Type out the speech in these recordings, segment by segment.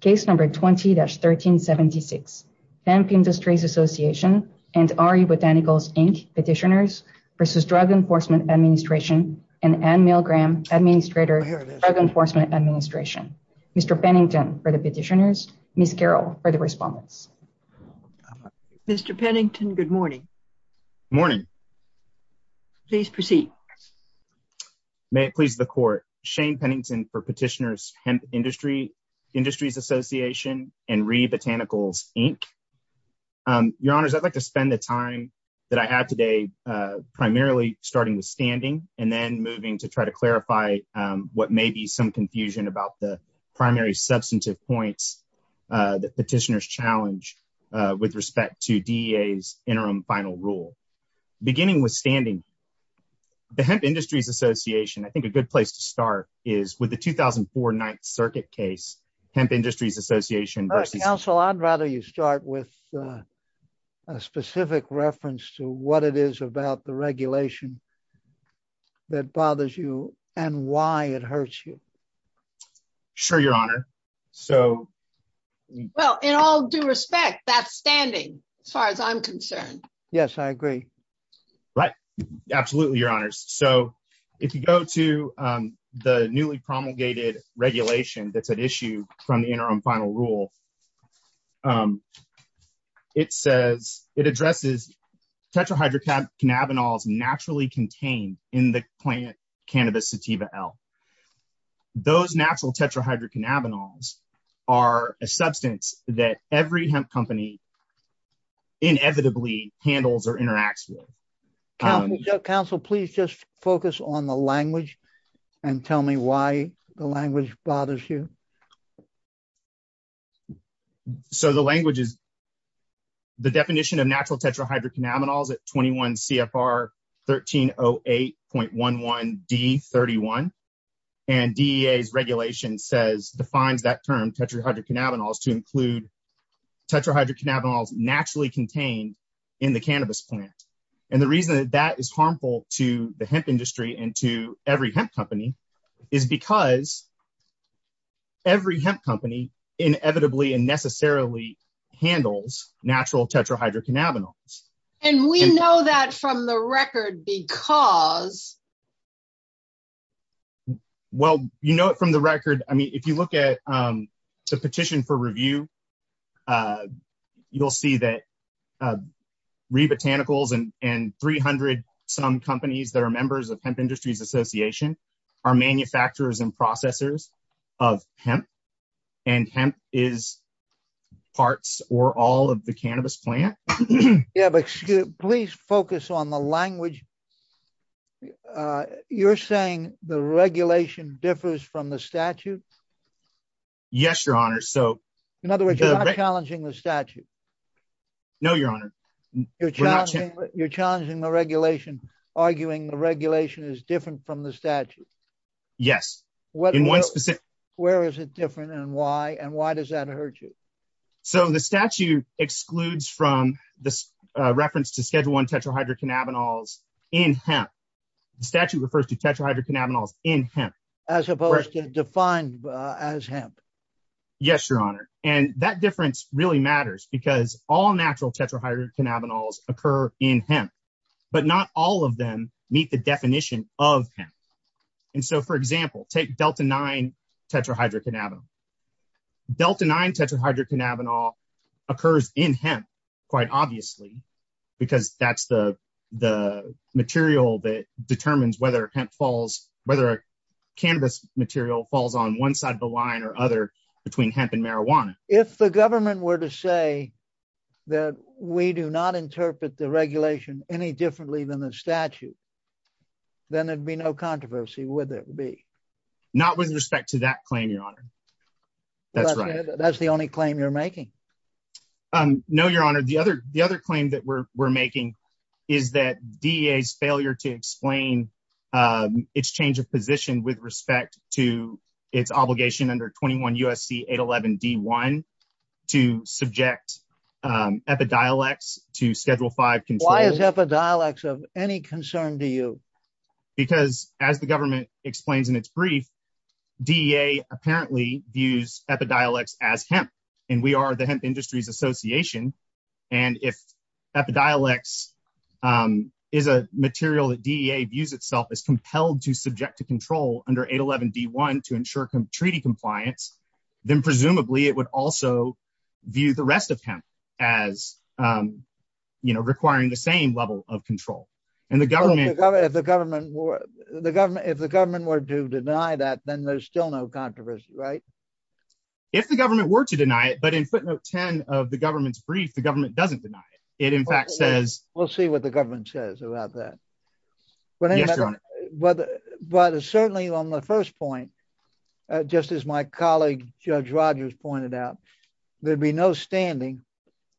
Case number 20-1376. Hemp Industries Association and RE Botanicals, Inc. Petitioners v. Drug Enforcement Administration and Ann Milgram, Administrator of Drug Enforcement Administration. Mr. Pennington for the petitioners, Ms. Carroll for the respondents. Mr. Pennington, good morning. Morning. Please proceed. May it please the court. Shane Pennington for petitioners, Hemp Industries Association and RE Botanicals, Inc. Your honors, I'd like to spend the time that I have today primarily starting with standing and then moving to try to clarify what may be some confusion about the primary substantive points that petitioners challenge with respect to DEA's interim final rule. Beginning with standing, the Hemp Industries Association, I think a good place to start is with the 2004 Ninth Circuit case. Hemp Industries Association versus... Counsel, I'd rather you start with a specific reference to what it is about the regulation that bothers you and why it hurts you. Sure, your honor. So... Well, in all due respect, that's standing as far as I'm concerned. Yes, I agree. Right. Absolutely, your honors. So, if you go to the newly promulgated regulation that's at issue from the interim final rule, it addresses tetrahydrocannabinols naturally contained in the plant cannabis sativa L. Those natural tetrahydrocannabinols are a substance that every handles or interacts with. Counsel, please just focus on the language and tell me why the language bothers you. So, the language is... The definition of natural tetrahydrocannabinols at 21 CFR 1308.11D31 and DEA's regulation defines that term tetrahydrocannabinols to include tetrahydrocannabinols naturally contained in the cannabis plant. And the reason that that is harmful to the hemp industry and to every hemp company is because every hemp company inevitably and necessarily handles natural tetrahydrocannabinols. And we know that from the record because... Well, you know it from the record. I mean, if you look at the petition for review, you'll see that Rebotanicals and 300 some companies that are members of Hemp Industries Association are manufacturers and processors of hemp and hemp is parts or all of the cannabis plant. Yeah, but please focus on the language. You're saying the regulation differs from the statute? Yes, your honor. So... In other words, you're not challenging the statute? No, your honor. You're challenging the regulation, arguing the regulation is different from the statute? Yes. In one specific... Where is it different and why? And why does that hurt you? So the statute excludes from this reference to schedule one tetrahydrocannabinols in hemp. The statute refers to tetrahydrocannabinols in hemp. As opposed to defined as hemp? Yes, your honor. And that difference really matters because all natural tetrahydrocannabinols occur in hemp, but not all of them meet the definition of hemp. And so, for example, take Delta-9 tetrahydrocannabinol. Delta-9 tetrahydrocannabinol occurs in hemp, quite obviously, because that's the material that determines whether hemp falls, whether a cannabis material falls on one side of the line or other between hemp and marijuana. If the government were to say that we do not interpret the regulation any differently than the statute, then there'd be no controversy, would there be? Not with respect to that claim, your honor. That's right. That's the only claim you're making? No, your honor. The other claim that we're making is that DEA's failure to explain its change of position with respect to its obligation under 21 U.S.C. 811 D-1 to subject epidiolex to schedule five... Why is epidiolex of any concern to you? Because as the government explains in its brief, DEA apparently views epidiolex as hemp, and we are the hemp industries association. And if epidiolex is a material that DEA views itself as compelled to subject to control under 811 D-1 to ensure treaty compliance, then presumably it would also view the rest of hemp as, you know, requiring the same level of control. If the government were to deny that, then there's still no controversy, right? If the government were to deny it, but in footnote 10 of the government's brief, the government doesn't deny it. It in fact says... We'll see what the government says about that. But certainly on the first point, just as my colleague Judge Rogers pointed out, there'd be no standing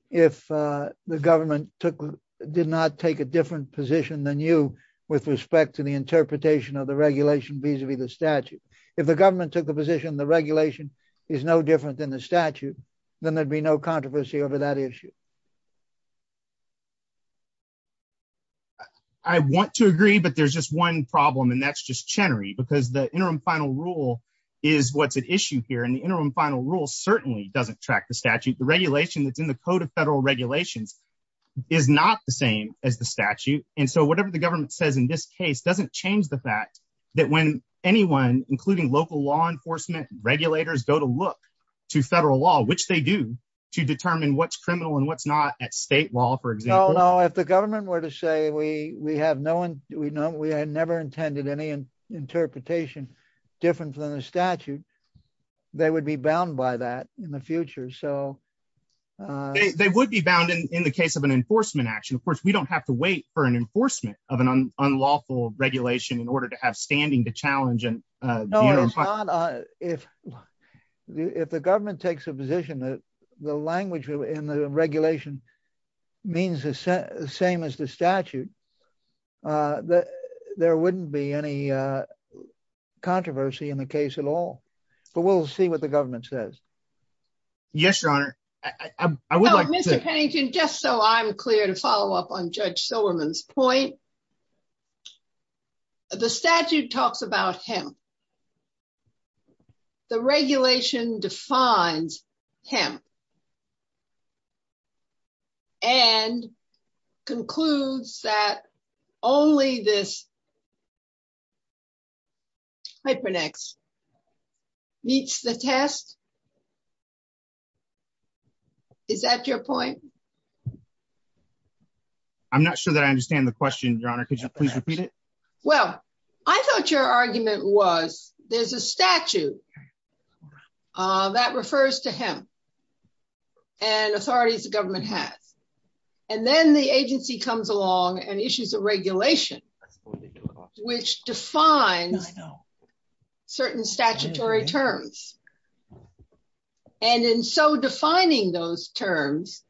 if the government did not take a different position than you with respect to the interpretation of the regulation vis-a-vis the statute. If the government took the position the regulation is no different than the statute, then there'd be no controversy over that issue. I want to agree, but there's just one problem, and that's just Chenery, because the interim final rule is what's at issue here. And the interim final rule certainly doesn't track the statute. The regulation that's in the Code of Federal Regulations is not the same as the statute, and so whatever the government says in this case doesn't change the fact that when anyone, including local law enforcement regulators, go to look to federal law, which they do, to determine what's criminal and what's not at state law, for example... No, no, if the government were to say, we have no... We had never intended any interpretation different than the statute, they would be bound by that in the future, so... They would be bound in the case of an enforcement action. Of course, we don't have to wait for an enforcement of an unlawful regulation in order to have standing to challenge... If the government takes a position that the language in the regulation means the same as the statute, there wouldn't be any controversy in the case at all, but we'll see what the government says. Yes, your honor. I would like to... No, Mr. Pennington, just so I'm clear to follow up on Judge Silverman's point, the statute talks about hemp. The regulation defines hemp and concludes that only this hypernex meets the test. Is that your point? I'm not sure that I understand the question, your honor. Could you please repeat it? Well, I thought your argument was there's a statute that refers to hemp and authorities the government has, and then the agency comes along and issues a regulation which defines certain statutory terms. And in so defining those terms,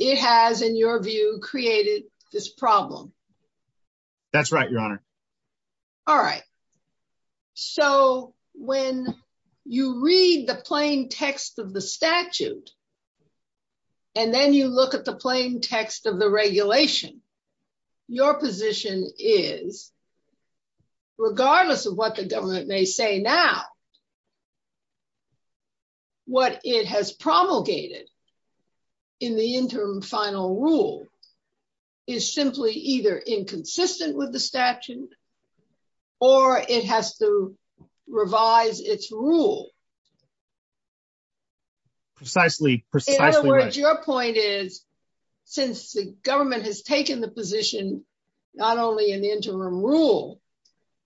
it has, in your view, created this problem. That's right, your honor. All right. So when you read the plain text of the statute, and then you look at the plain text of the regulation, your position is, regardless of what the government may say now, what it has promulgated in the interim final rule is simply either inconsistent with the statute or it has to revise its rule. Precisely. In other words, your point is, since the government has taken the position not only in the interim rule,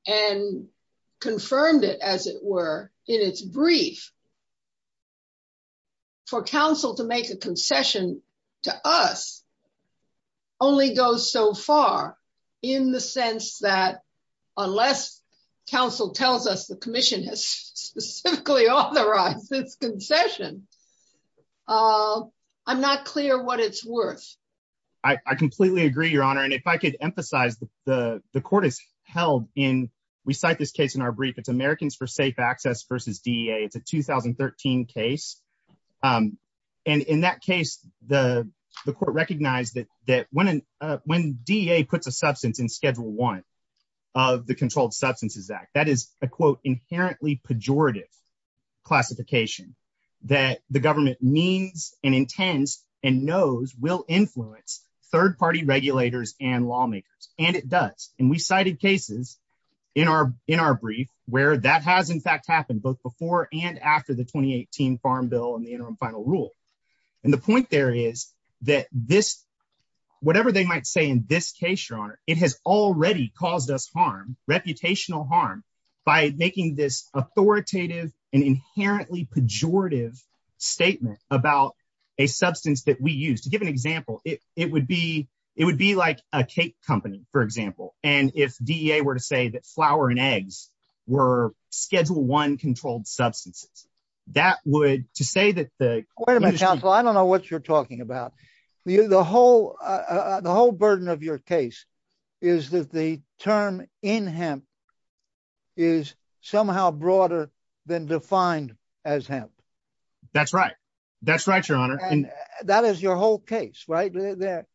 and confirmed it as it were in its brief, for counsel to make a concession to us only goes so far in the sense that unless counsel tells us the commission has specifically authorized this concession, I'm not clear what it's worth. I completely agree, your honor. And if I could emphasize the court is held in, we cite this case in our brief, it's Americans for Safe Access versus DEA. It's a 2013 case. And in that case, the court recognized that when DEA puts a substance in schedule one of the Controlled Substances Act, that is a quote, inherently pejorative classification that the government means and intends and knows will influence third party regulators and lawmakers. And it does. And we cited cases in our brief where that has in fact happened both before and after the 2018 Farm Bill and the interim final rule. And the point there is that this, whatever they might say in this case, your honor, it has already caused us harm, reputational harm by making this authoritative and inherently pejorative statement about a substance that we use. To give an example, it would be like a cake company, for example. And if DEA were to say that flour and eggs were schedule one controlled substances, that would, to say that the- Wait a minute, counsel, I don't know what you're talking about. The whole burden of your case is that the term in hemp is somehow broader than defined as hemp. That's right. That's right, your honor. And that is your whole case, right there.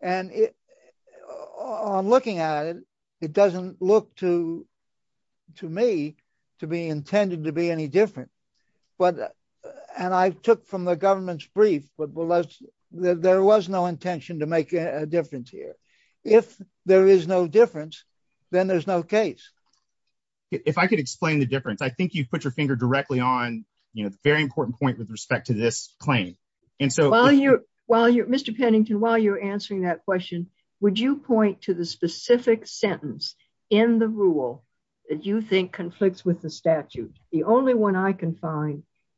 And on looking at it, it doesn't look to me to be intended to be any different. But, and I took from the government's brief, but there was no intention to make a difference here. If there is no difference, then there's no case. If I could explain the difference, I think you put your finger directly on the very important point with respect to this claim. And so- Mr. Pennington, while you're answering that question, would you point to the specific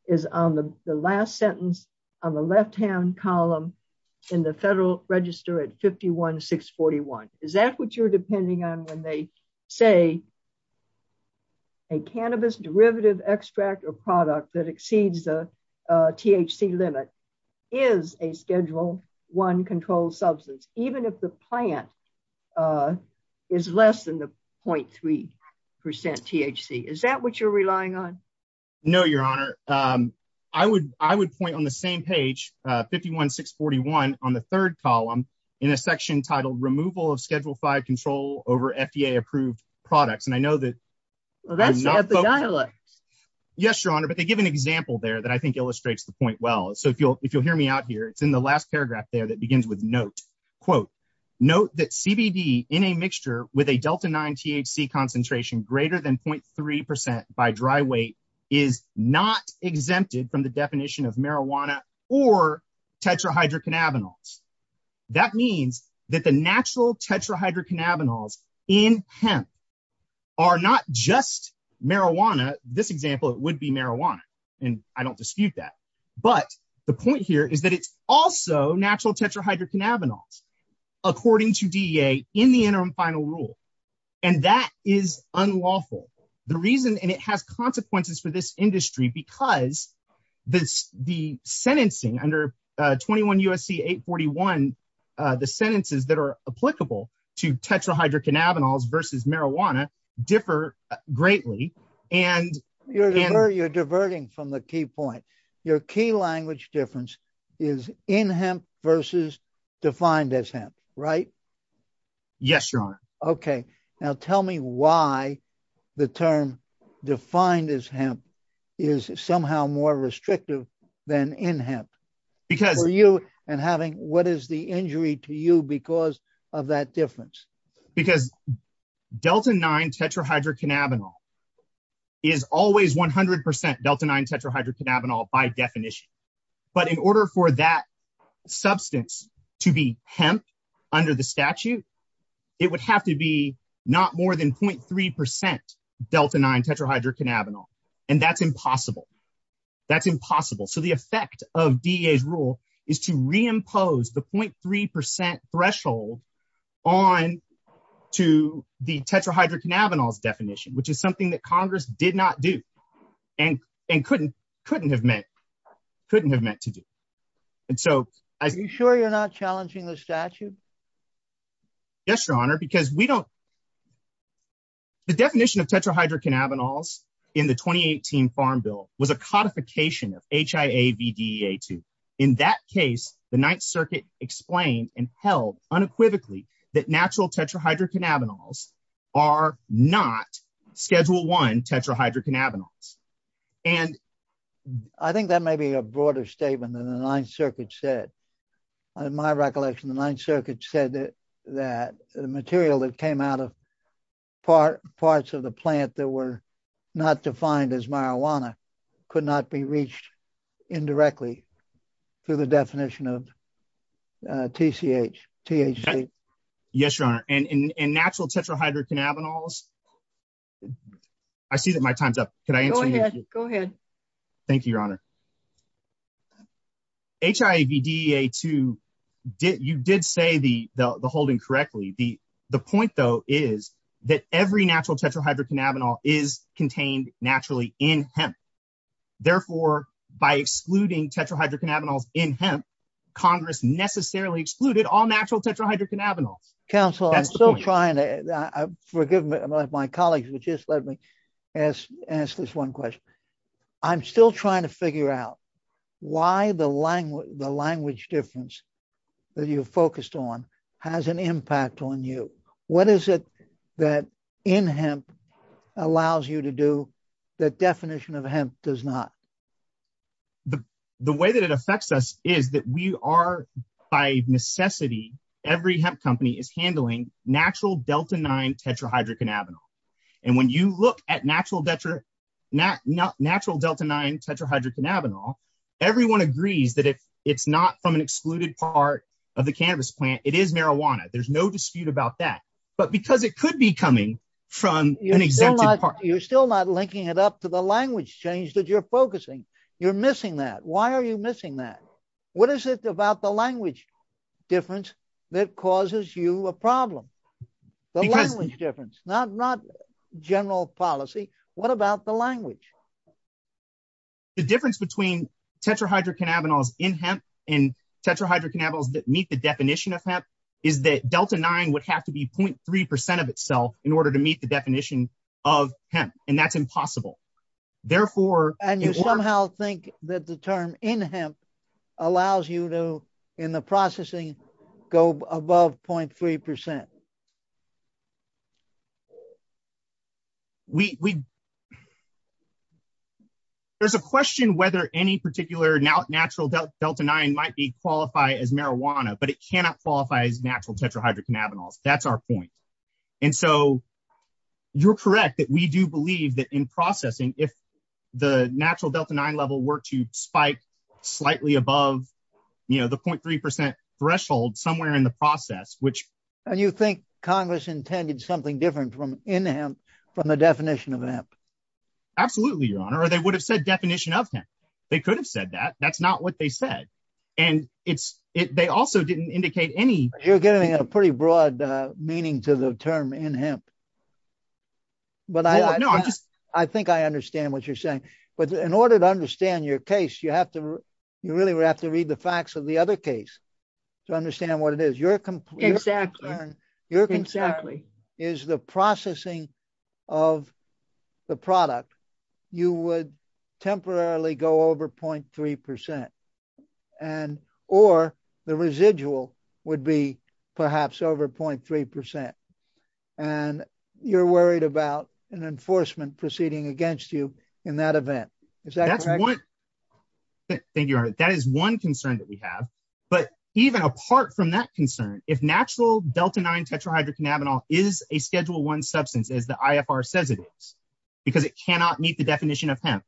is on the last sentence on the left-hand column in the federal register at 51641. Is that what you're depending on when they say a cannabis derivative extract or product that exceeds the THC limit is a schedule one controlled substance, even if the plant is less than the 0.3% THC. Is that what you're relying on? No, your honor. I would point on the same page, 51641 on the third column in a section titled removal of schedule five control over FDA approved products. And I know that- Yes, your honor. But they give an example there that I think illustrates the point well. So if you'll hear me out here, it's in the last paragraph there that begins with note, quote, note that CBD in a mixture with a Delta nine THC concentration greater than 0.3% by dry weight is not exempted from the definition of marijuana or tetrahydrocannabinols. That means that the natural tetrahydrocannabinols in hemp are not just marijuana. This example, it would be marijuana. And I don't dispute that. But the point here is that it's also natural tetrahydrocannabinols according to DEA in the interim final rule. And that is unlawful. The reason, and it has consequences for this industry because the sentencing under 21 USC 841, the sentences that are applicable to tetrahydrocannabinols versus marijuana differ greatly and- You're diverting from the key point. Your key language difference is in hemp versus defined as hemp, right? Yes, your honor. Okay. Now tell me why the term defined as hemp is somehow more restrictive than in hemp for you and having, what is the injury to you because of that difference? Because delta-9 tetrahydrocannabinol is always 100% delta-9 tetrahydrocannabinol by definition. But in order for that substance to be hemp under the statute, it would have to be not more than 0.3% delta-9 tetrahydrocannabinol. And that's impossible. That's impossible. So the effect of DEA's rule is to reimpose the 0.3% threshold on to the tetrahydrocannabinols definition, which is something that Congress did not do and couldn't have meant to do. And so- Are you sure you're not challenging the statute? Yes, your honor, because we don't... The definition of tetrahydrocannabinols in the 2018 Farm Bill was a codification of HIA-VDEA-2. In that case, the Ninth Circuit explained and held unequivocally that natural tetrahydrocannabinols are not schedule one tetrahydrocannabinols. And I think that may be a broader statement than the Ninth Circuit said. In my recollection, the Ninth Circuit said that the material that part parts of the plant that were not defined as marijuana could not be reached indirectly through the definition of TCH, THC. Yes, your honor. And natural tetrahydrocannabinols... I see that my time's up. Can I answer? Go ahead. Thank you, your honor. HIA-VDEA-2, you did say the holding correctly. The point though is that every natural tetrahydrocannabinol is contained naturally in hemp. Therefore, by excluding tetrahydrocannabinols in hemp, Congress necessarily excluded all natural tetrahydrocannabinols. Counsel, I'm still trying to... Forgive me, my colleagues who just let me ask this one question. I'm still trying to figure out why the language difference that you focused on has an impact on you. What is it that in hemp allows you to do that definition of hemp does not? The way that it affects us is that we are, by necessity, every hemp company is handling natural delta-9 tetrahydrocannabinol. And when you look at natural delta-9 tetrahydrocannabinol, everyone agrees that if it's not from an excluded part of the cannabis plant, it is marijuana. There's no dispute about that. But because it could be coming from an exempted part... You're still not linking it up to the language change that you're focusing. You're missing that. Why are you missing that? What is it about the language difference that causes you a problem? The language difference, not general policy. What about the language? The difference between tetrahydrocannabinols in hemp and tetrahydrocannabinols that meet the definition of hemp is that delta-9 would have to be 0.3% of itself in order to meet the definition of hemp. And that's impossible. Therefore... And you somehow think that the term in hemp allows you to, in the processing, go above 0.3%. There's a question whether any particular natural delta-9 might be qualified as marijuana, but it cannot qualify as natural tetrahydrocannabinols. That's our point. And so you're correct that we do believe that in processing, if the natural delta-9 level were to spike slightly above the 0.3% threshold somewhere in the process, which... And you think Congress intended something different in hemp from the definition of hemp? Absolutely, Your Honor. Or they would have said definition of hemp. They could have said that. That's not what they said. And they also didn't indicate any... You're getting a pretty broad meaning to the term in hemp, but I think I understand what you're saying. But in order to understand your case, you really would have to read the facts of the other case to understand what it is. Your concern is the processing of the product, you would perhaps over 0.3%. And you're worried about an enforcement proceeding against you in that event. Thank you, Your Honor. That is one concern that we have. But even apart from that concern, if natural delta-9 tetrahydrocannabinol is a Schedule I substance, as the IFR says it is, because it cannot meet the definition of hemp,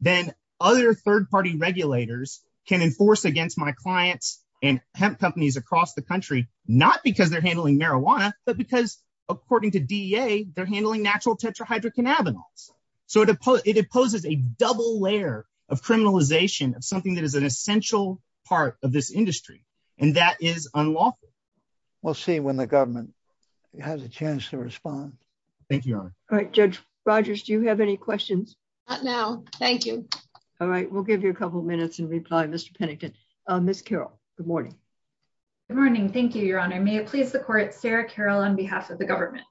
then other third-party regulators can enforce against my clients and hemp companies across the country, not because they're handling marijuana, but because according to DEA, they're handling natural tetrahydrocannabinols. So it opposes a double layer of criminalization of something that is an essential part of this industry. And that is unlawful. We'll see when the government has a chance to respond. Thank you, Your Honor. All right. Judge Rogers, do you have any questions? Not now. Thank you. All right. We'll give you a couple minutes in reply, Mr. Pennington. Ms. Carroll, good morning. Good morning. Thank you, Your Honor. May it please the Court, Sarah Carroll, on behalf of the government.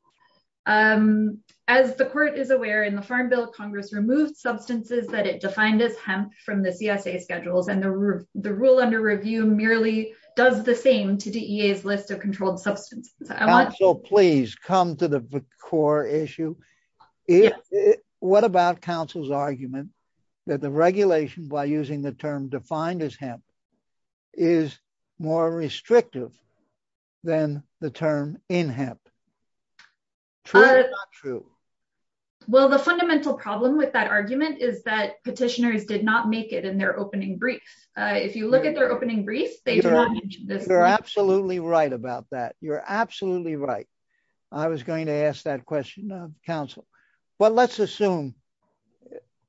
As the Court is aware, in the Farm Bill, Congress removed substances that it defined as hemp from the CSA Schedules, and the rule under review merely does the same to DEA's list of controlled substances. I want... Counsel, please, come to the core issue. What about counsel's argument that the regulation, by using the term defined as hemp, is more restrictive than the term in hemp? True or not true? Well, the fundamental problem with that argument is that petitioners did not make it in their opening brief. If you look at their opening brief, they do not mention this. You're absolutely right about that. You're absolutely right. I was going to ask that counsel. But let's assume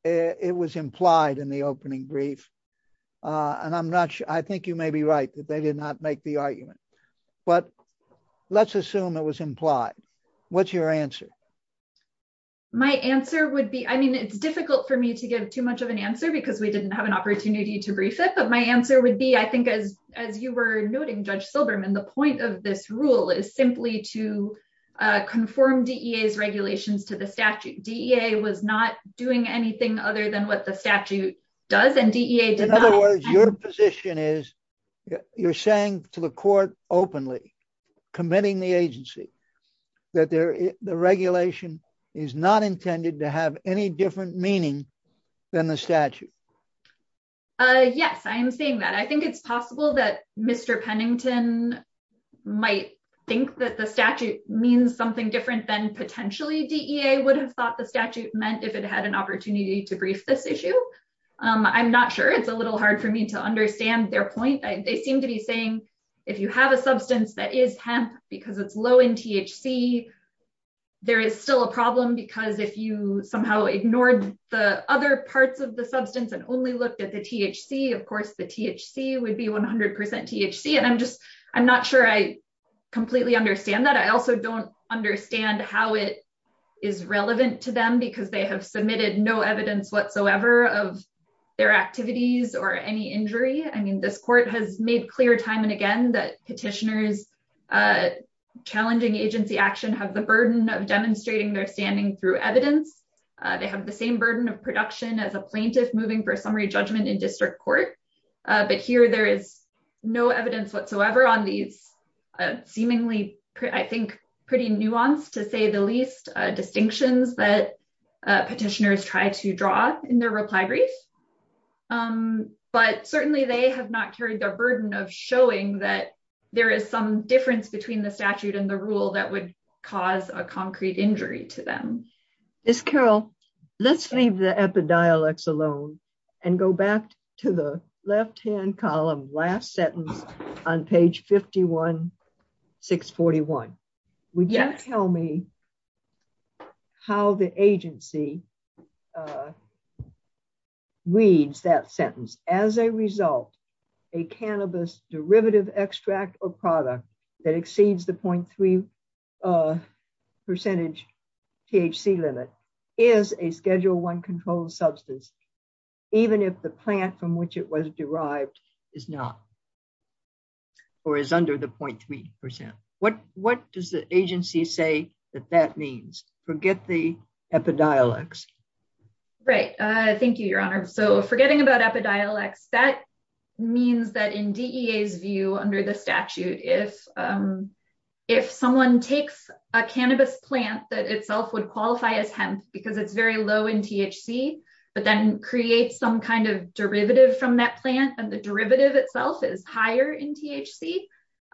it was implied in the opening brief. I think you may be right, that they did not make the argument. But let's assume it was implied. What's your answer? My answer would be... I mean, it's difficult for me to give too much of an answer because we didn't have an opportunity to brief it. But my answer would be, I think, as you were noting, Judge Rule is simply to conform DEA's regulations to the statute. DEA was not doing anything other than what the statute does. And DEA did not... In other words, your position is, you're saying to the court openly, committing the agency, that the regulation is not intended to have any different meaning than the statute. Yes, I am saying that. I think it's possible that think that the statute means something different than potentially DEA would have thought the statute meant if it had an opportunity to brief this issue. I'm not sure. It's a little hard for me to understand their point. They seem to be saying, if you have a substance that is hemp, because it's low in THC, there is still a problem. Because if you somehow ignored the other parts of the substance and only looked at the THC, of course, the THC would be 100% THC. And I'm not sure I completely understand that. I also don't understand how it is relevant to them because they have submitted no evidence whatsoever of their activities or any injury. I mean, this court has made clear time and again that petitioners challenging agency action have the burden of demonstrating their standing through evidence. They have the same burden of production as a plaintiff moving for a summary judgment in district court. But here there is no evidence whatsoever on these seemingly, I think, pretty nuanced, to say the least, distinctions that petitioners try to draw in their reply brief. But certainly they have not carried the burden of showing that there is some difference between the statute and the rule that would cause a concrete injury to them. Miss Carroll, let's leave the epidiolex alone and go back to left-hand column, last sentence on page 51641. Would you tell me how the agency reads that sentence? As a result, a cannabis derivative extract or product that exceeds the 0.3% THC limit is a Schedule I controlled substance, even if the plant from which it was derived is not or is under the 0.3%. What does the agency say that that means? Forget the epidiolex. Right. Thank you, Your Honor. So forgetting about epidiolex, that if someone takes a cannabis plant that itself would qualify as hemp because it's very low in THC, but then creates some kind of derivative from that plant and the derivative itself is higher in THC,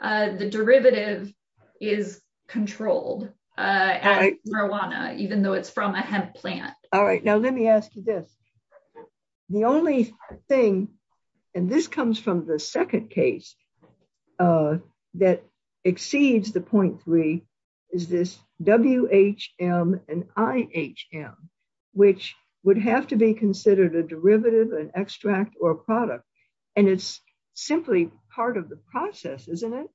the derivative is controlled as marijuana, even though it's from a hemp plant. All right. Now let me ask you this. The only thing, and this comes from the second case that exceeds the 0.3%, is this WHM and IHM, which would have to be considered a derivative, an extract, or a product. And it's simply part of the process, isn't it,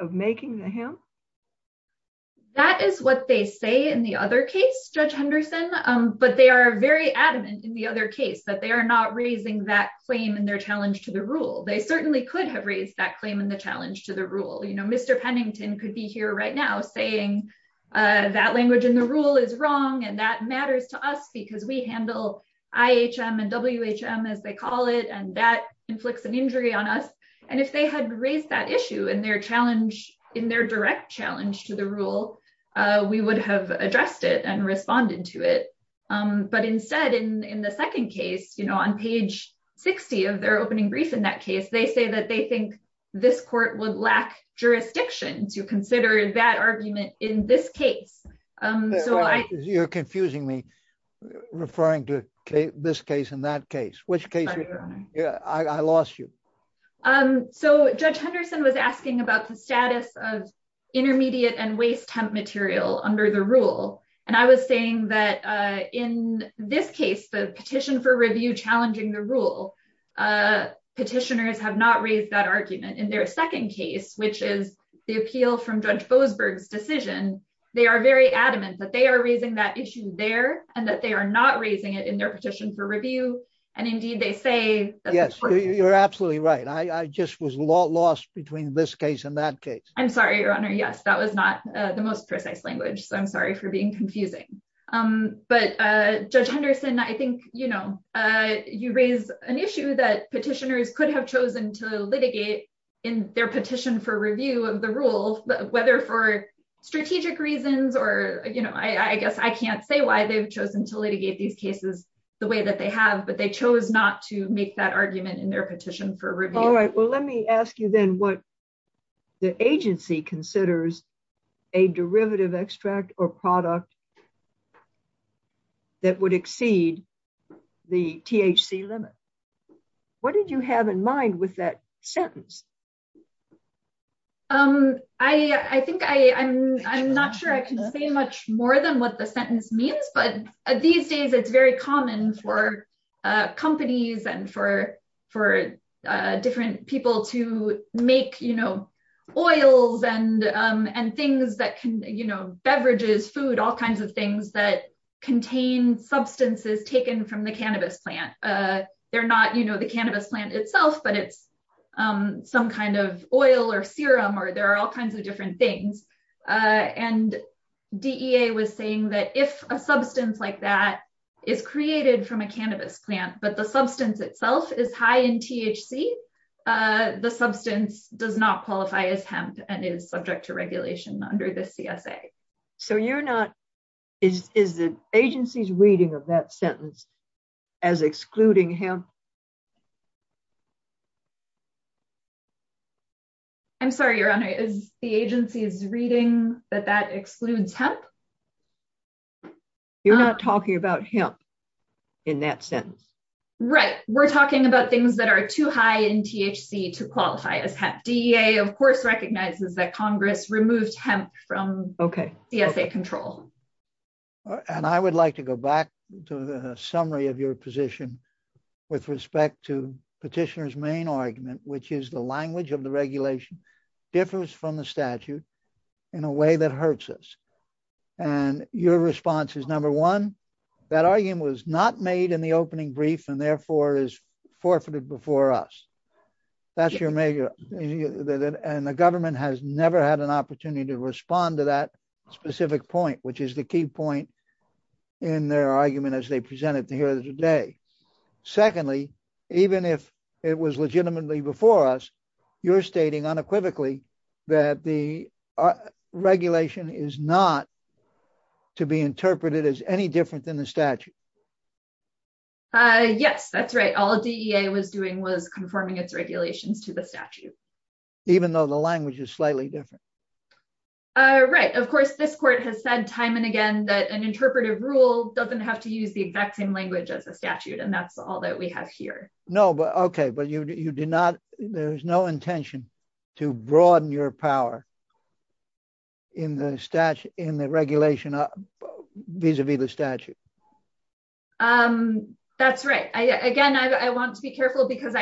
of making the hemp? That is what they say in the other case, Judge Henderson, but they are very adamant in the other case that they are not raising that claim in their challenge to the rule. They certainly could have raised that claim in the right now, saying that language in the rule is wrong and that matters to us because we handle IHM and WHM, as they call it, and that inflicts an injury on us. And if they had raised that issue in their challenge, in their direct challenge to the rule, we would have addressed it and responded to it. But instead, in the second case, on page 60 of their opening brief in that case, they say that they think this court would lack jurisdiction to consider that argument in this case. You're confusing me, referring to this case and that case. Which case? I lost you. So Judge Henderson was asking about the status of intermediate and waste hemp material under the rule, and I was saying that in this case, the petition for review challenging the rule, petitioners have not raised that argument. In their second case, which is the appeal from Judge Boasberg's decision, they are very adamant that they are raising that issue there and that they are not raising it in their petition for review. And indeed, they say... Yes, you're absolutely right. I just was lost between this case and that case. I'm sorry, your honor. Yes, that was not the most precise language, so I'm sorry for being confusing. But Judge Henderson, I think, you know, you raise an issue that petitioners could have chosen to litigate in their petition for review of the rule, whether for strategic reasons or, you know, I guess I can't say why they've chosen to litigate these cases the way that they have, but they chose not to make that argument in their petition for review. All right, well, let me ask you then what the agency considers a derivative extract or product that would exceed the THC limit. What did you have in mind with that sentence? I think I'm not sure I can say much more than what the sentence means, but these days it's very common for companies and for different people to make, you know, oils and things that can, you know, beverages, food, all kinds of things that contain substances taken from the cannabis plant. They're not, you know, the cannabis plant itself, but it's some kind of oil or serum or there are all kinds of different things. And DEA was saying that if a substance like that is created from a cannabis plant, but the substance itself is high in THC, the substance does not qualify as hemp and is subject to regulation under the CSA. So you're not, is the agency's reading of that sentence as excluding hemp? I'm sorry, Your Honor, is the agency's reading that that excludes hemp? You're not talking about hemp in that sentence. Right. We're talking about things that are too high in THC to qualify as hemp. DEA, of course, recognizes that Congress removed hemp from CSA control. And I would like to go back to the summary of your position with respect to petitioner's main argument, which is the language of the regulation differs from the statute in a way that hurts us. And your response is number one, that argument was not made in the opening brief and therefore is forfeited before us. That's your major, and the government has never had an opportunity to respond to that specific point, which is the key point in their argument as they presented here today. Secondly, even if it was legitimately before us, you're stating unequivocally that the regulation is not to be interpreted as any different than the statute. Yes, that's right. All DEA was doing was conforming its regulations to the statute. Even though the language is slightly different. Right. Of course, this court has said time and time again, that an interpretive rule doesn't have to use the exact same language as a statute. And that's all that we have here. No, but okay. But there's no intention to broaden your power in the regulation vis-a-vis the statute. That's right. Again, I want to be careful because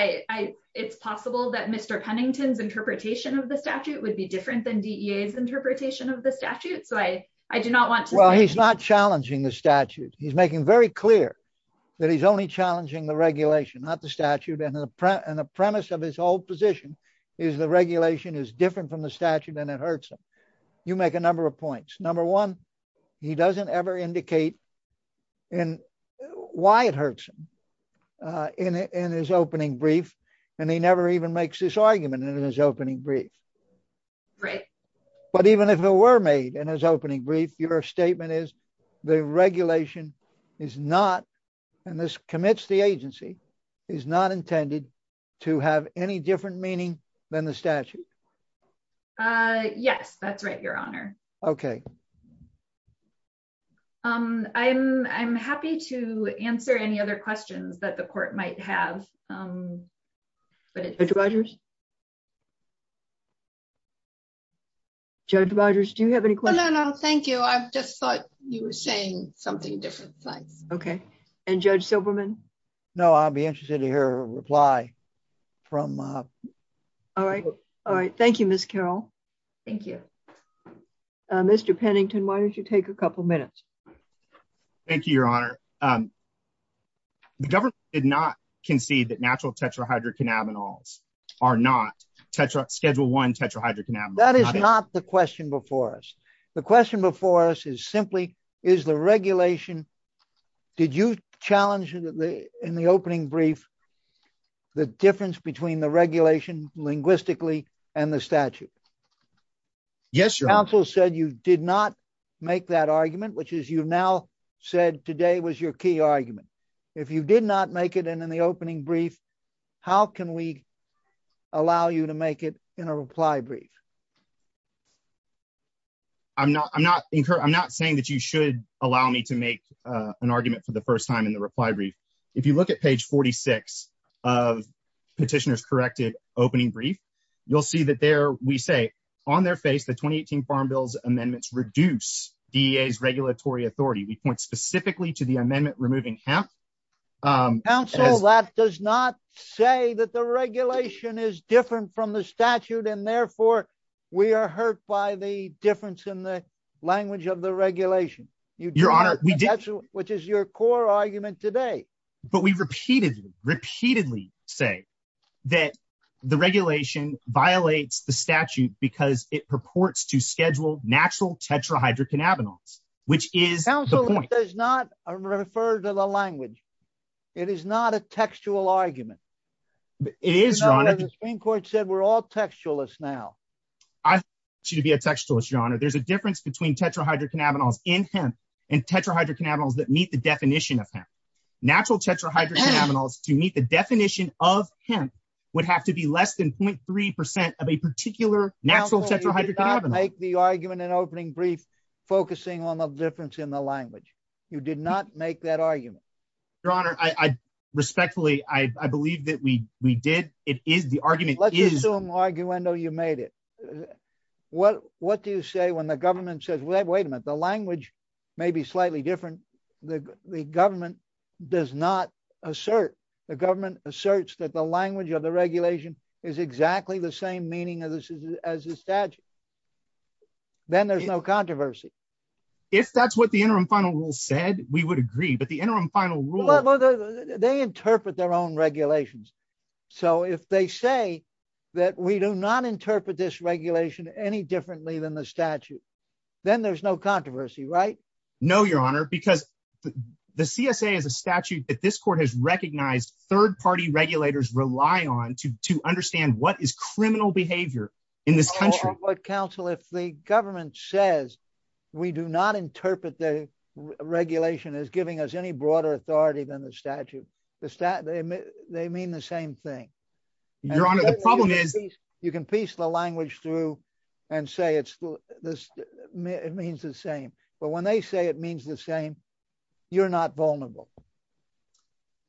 it's possible that Mr. Pennington's interpretation of the statute would be different than DEA's interpretation of the statute. So I do not want to- Well, he's not challenging the statute. He's making very clear that he's only challenging the regulation, not the statute. And the premise of his whole position is the regulation is different from the statute and it hurts him. You make a number of points. Number one, he doesn't ever indicate why it hurts him in his opening brief. And he never even makes this statement. The regulation is not, and this commits the agency, is not intended to have any different meaning than the statute. Yes, that's right, Your Honor. Okay. I'm happy to answer any other questions that the court might have. Judge Rogers? Judge Rogers, do you have any questions? No, no, no. Thank you. You were saying something different. Thanks. Okay. And Judge Silberman? No, I'll be interested to hear a reply from- All right. Thank you, Ms. Carroll. Thank you. Mr. Pennington, why don't you take a couple minutes? Thank you, Your Honor. The government did not concede that natural tetrahydrocannabinols are not schedule one tetrahydrocannabinols. That is not the question before us. The question before us is simply, did you challenge in the opening brief the difference between the regulation linguistically and the statute? Yes, Your Honor. Counsel said you did not make that argument, which is you've now said today was your key argument. If you did not make it in the opening brief, how can we allow you to make it in a reply brief? I'm not saying that you should allow me to make an argument for the first time in the reply brief. If you look at page 46 of petitioner's corrected opening brief, you'll see that there we say, on their face, the 2018 Farm Bill's amendments reduce DEA's regulatory authority. We point specifically to the amendment removing hemp. Counsel, that does not say that the regulation is different from the statute, and therefore, we are hurt by the difference in the language of the regulation, which is your core argument today. But we repeatedly say that the regulation violates the statute because it purports to schedule natural tetrahydrocannabinols, which is the point. Counsel, it does not refer to the language. It is not a textual argument. It is, Your Honor. The Supreme Court said we're all textualists now. I want you to be a textualist, Your Honor. There's a difference between tetrahydrocannabinols in hemp and tetrahydrocannabinols that meet the definition of hemp. Natural tetrahydrocannabinols, to meet the definition of hemp, would have to be less than 0.3% of a particular natural tetrahydrocannabinol. Counsel, you did not make the argument in opening brief focusing on the difference in the language. You did not make that argument. Your Honor, respectfully, I believe that we did. It is the argument. Let's assume, arguendo, you made it. What do you say when the government says, wait a minute, the language may be slightly different. The government does not assert. The government asserts that the language of the regulation is exactly the same meaning as the statute. Then there's no controversy. If that's what the interim final rule said, we would agree. The interim final rule- They interpret their own regulations. If they say that we do not interpret this regulation any differently than the statute, then there's no controversy, right? No, Your Honor, because the CSA is a statute that this court has recognized third-party regulators rely on to understand what is criminal behavior in this country. Counsel, if the government says we do not interpret the regulation as giving us any broader authority than the statute, they mean the same thing. Your Honor, the problem is- You can piece the language through and say it means the same, but when they say it means the same, you're not vulnerable.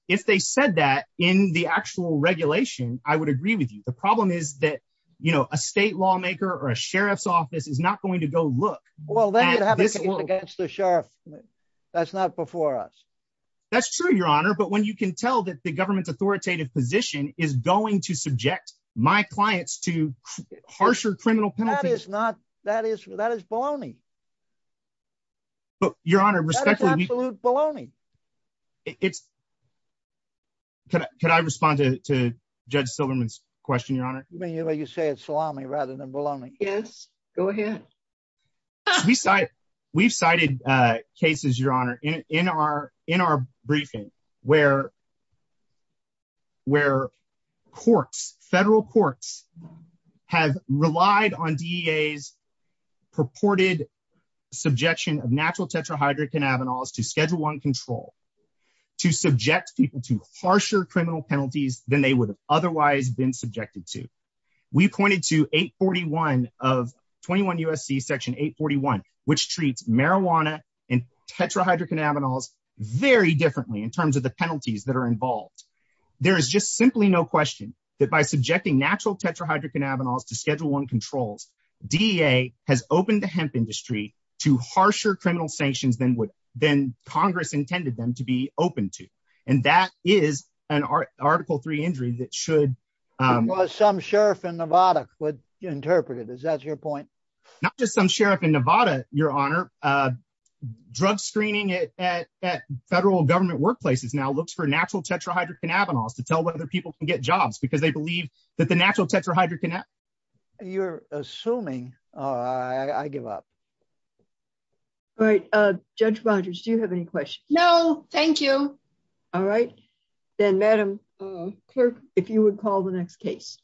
If they said that in the actual regulation, I would agree with you. The problem is that a state lawmaker or a sheriff's office is not going to go look at this- Well, then you'd have a case against the sheriff. That's not before us. That's true, Your Honor, but when you can tell that the government's authoritative position is going to subject my clients to harsher criminal penalties- That is baloney. Your Honor, respectfully- That is absolute baloney. Could I respond to Judge Silverman's question, Your Honor? You say it's salami rather than baloney. Yes, go ahead. We've cited cases, Your Honor, in our briefing where courts, federal courts, have relied on DEA's purported subjection of natural tetrahydric cannabinols to Schedule I control to subject people to harsher criminal penalties than they would have otherwise been subjected to. We pointed to 841 of 21 U.S.C. Section 841, which treats marijuana and tetrahydric cannabinols very differently in terms of the penalties that are involved. There is just simply no question that by subjecting natural tetrahydric cannabinols to Schedule I controls, DEA has opened the hemp industry to harsher criminal sanctions than Congress intended them to be open to, and that is an Article III injury that should- Some sheriff in Nevada would interpret it. Is that your point? Not just some sheriff in Nevada, Your Honor. Drug screening at federal government workplaces now looks for natural tetrahydric cannabinols to tell whether people can get jobs because they believe that the natural tetrahydric- You're assuming. I give up. All right. Judge Rogers, do you have any questions? No, thank you. All right. Then, Madam Clerk, if you would call the next case.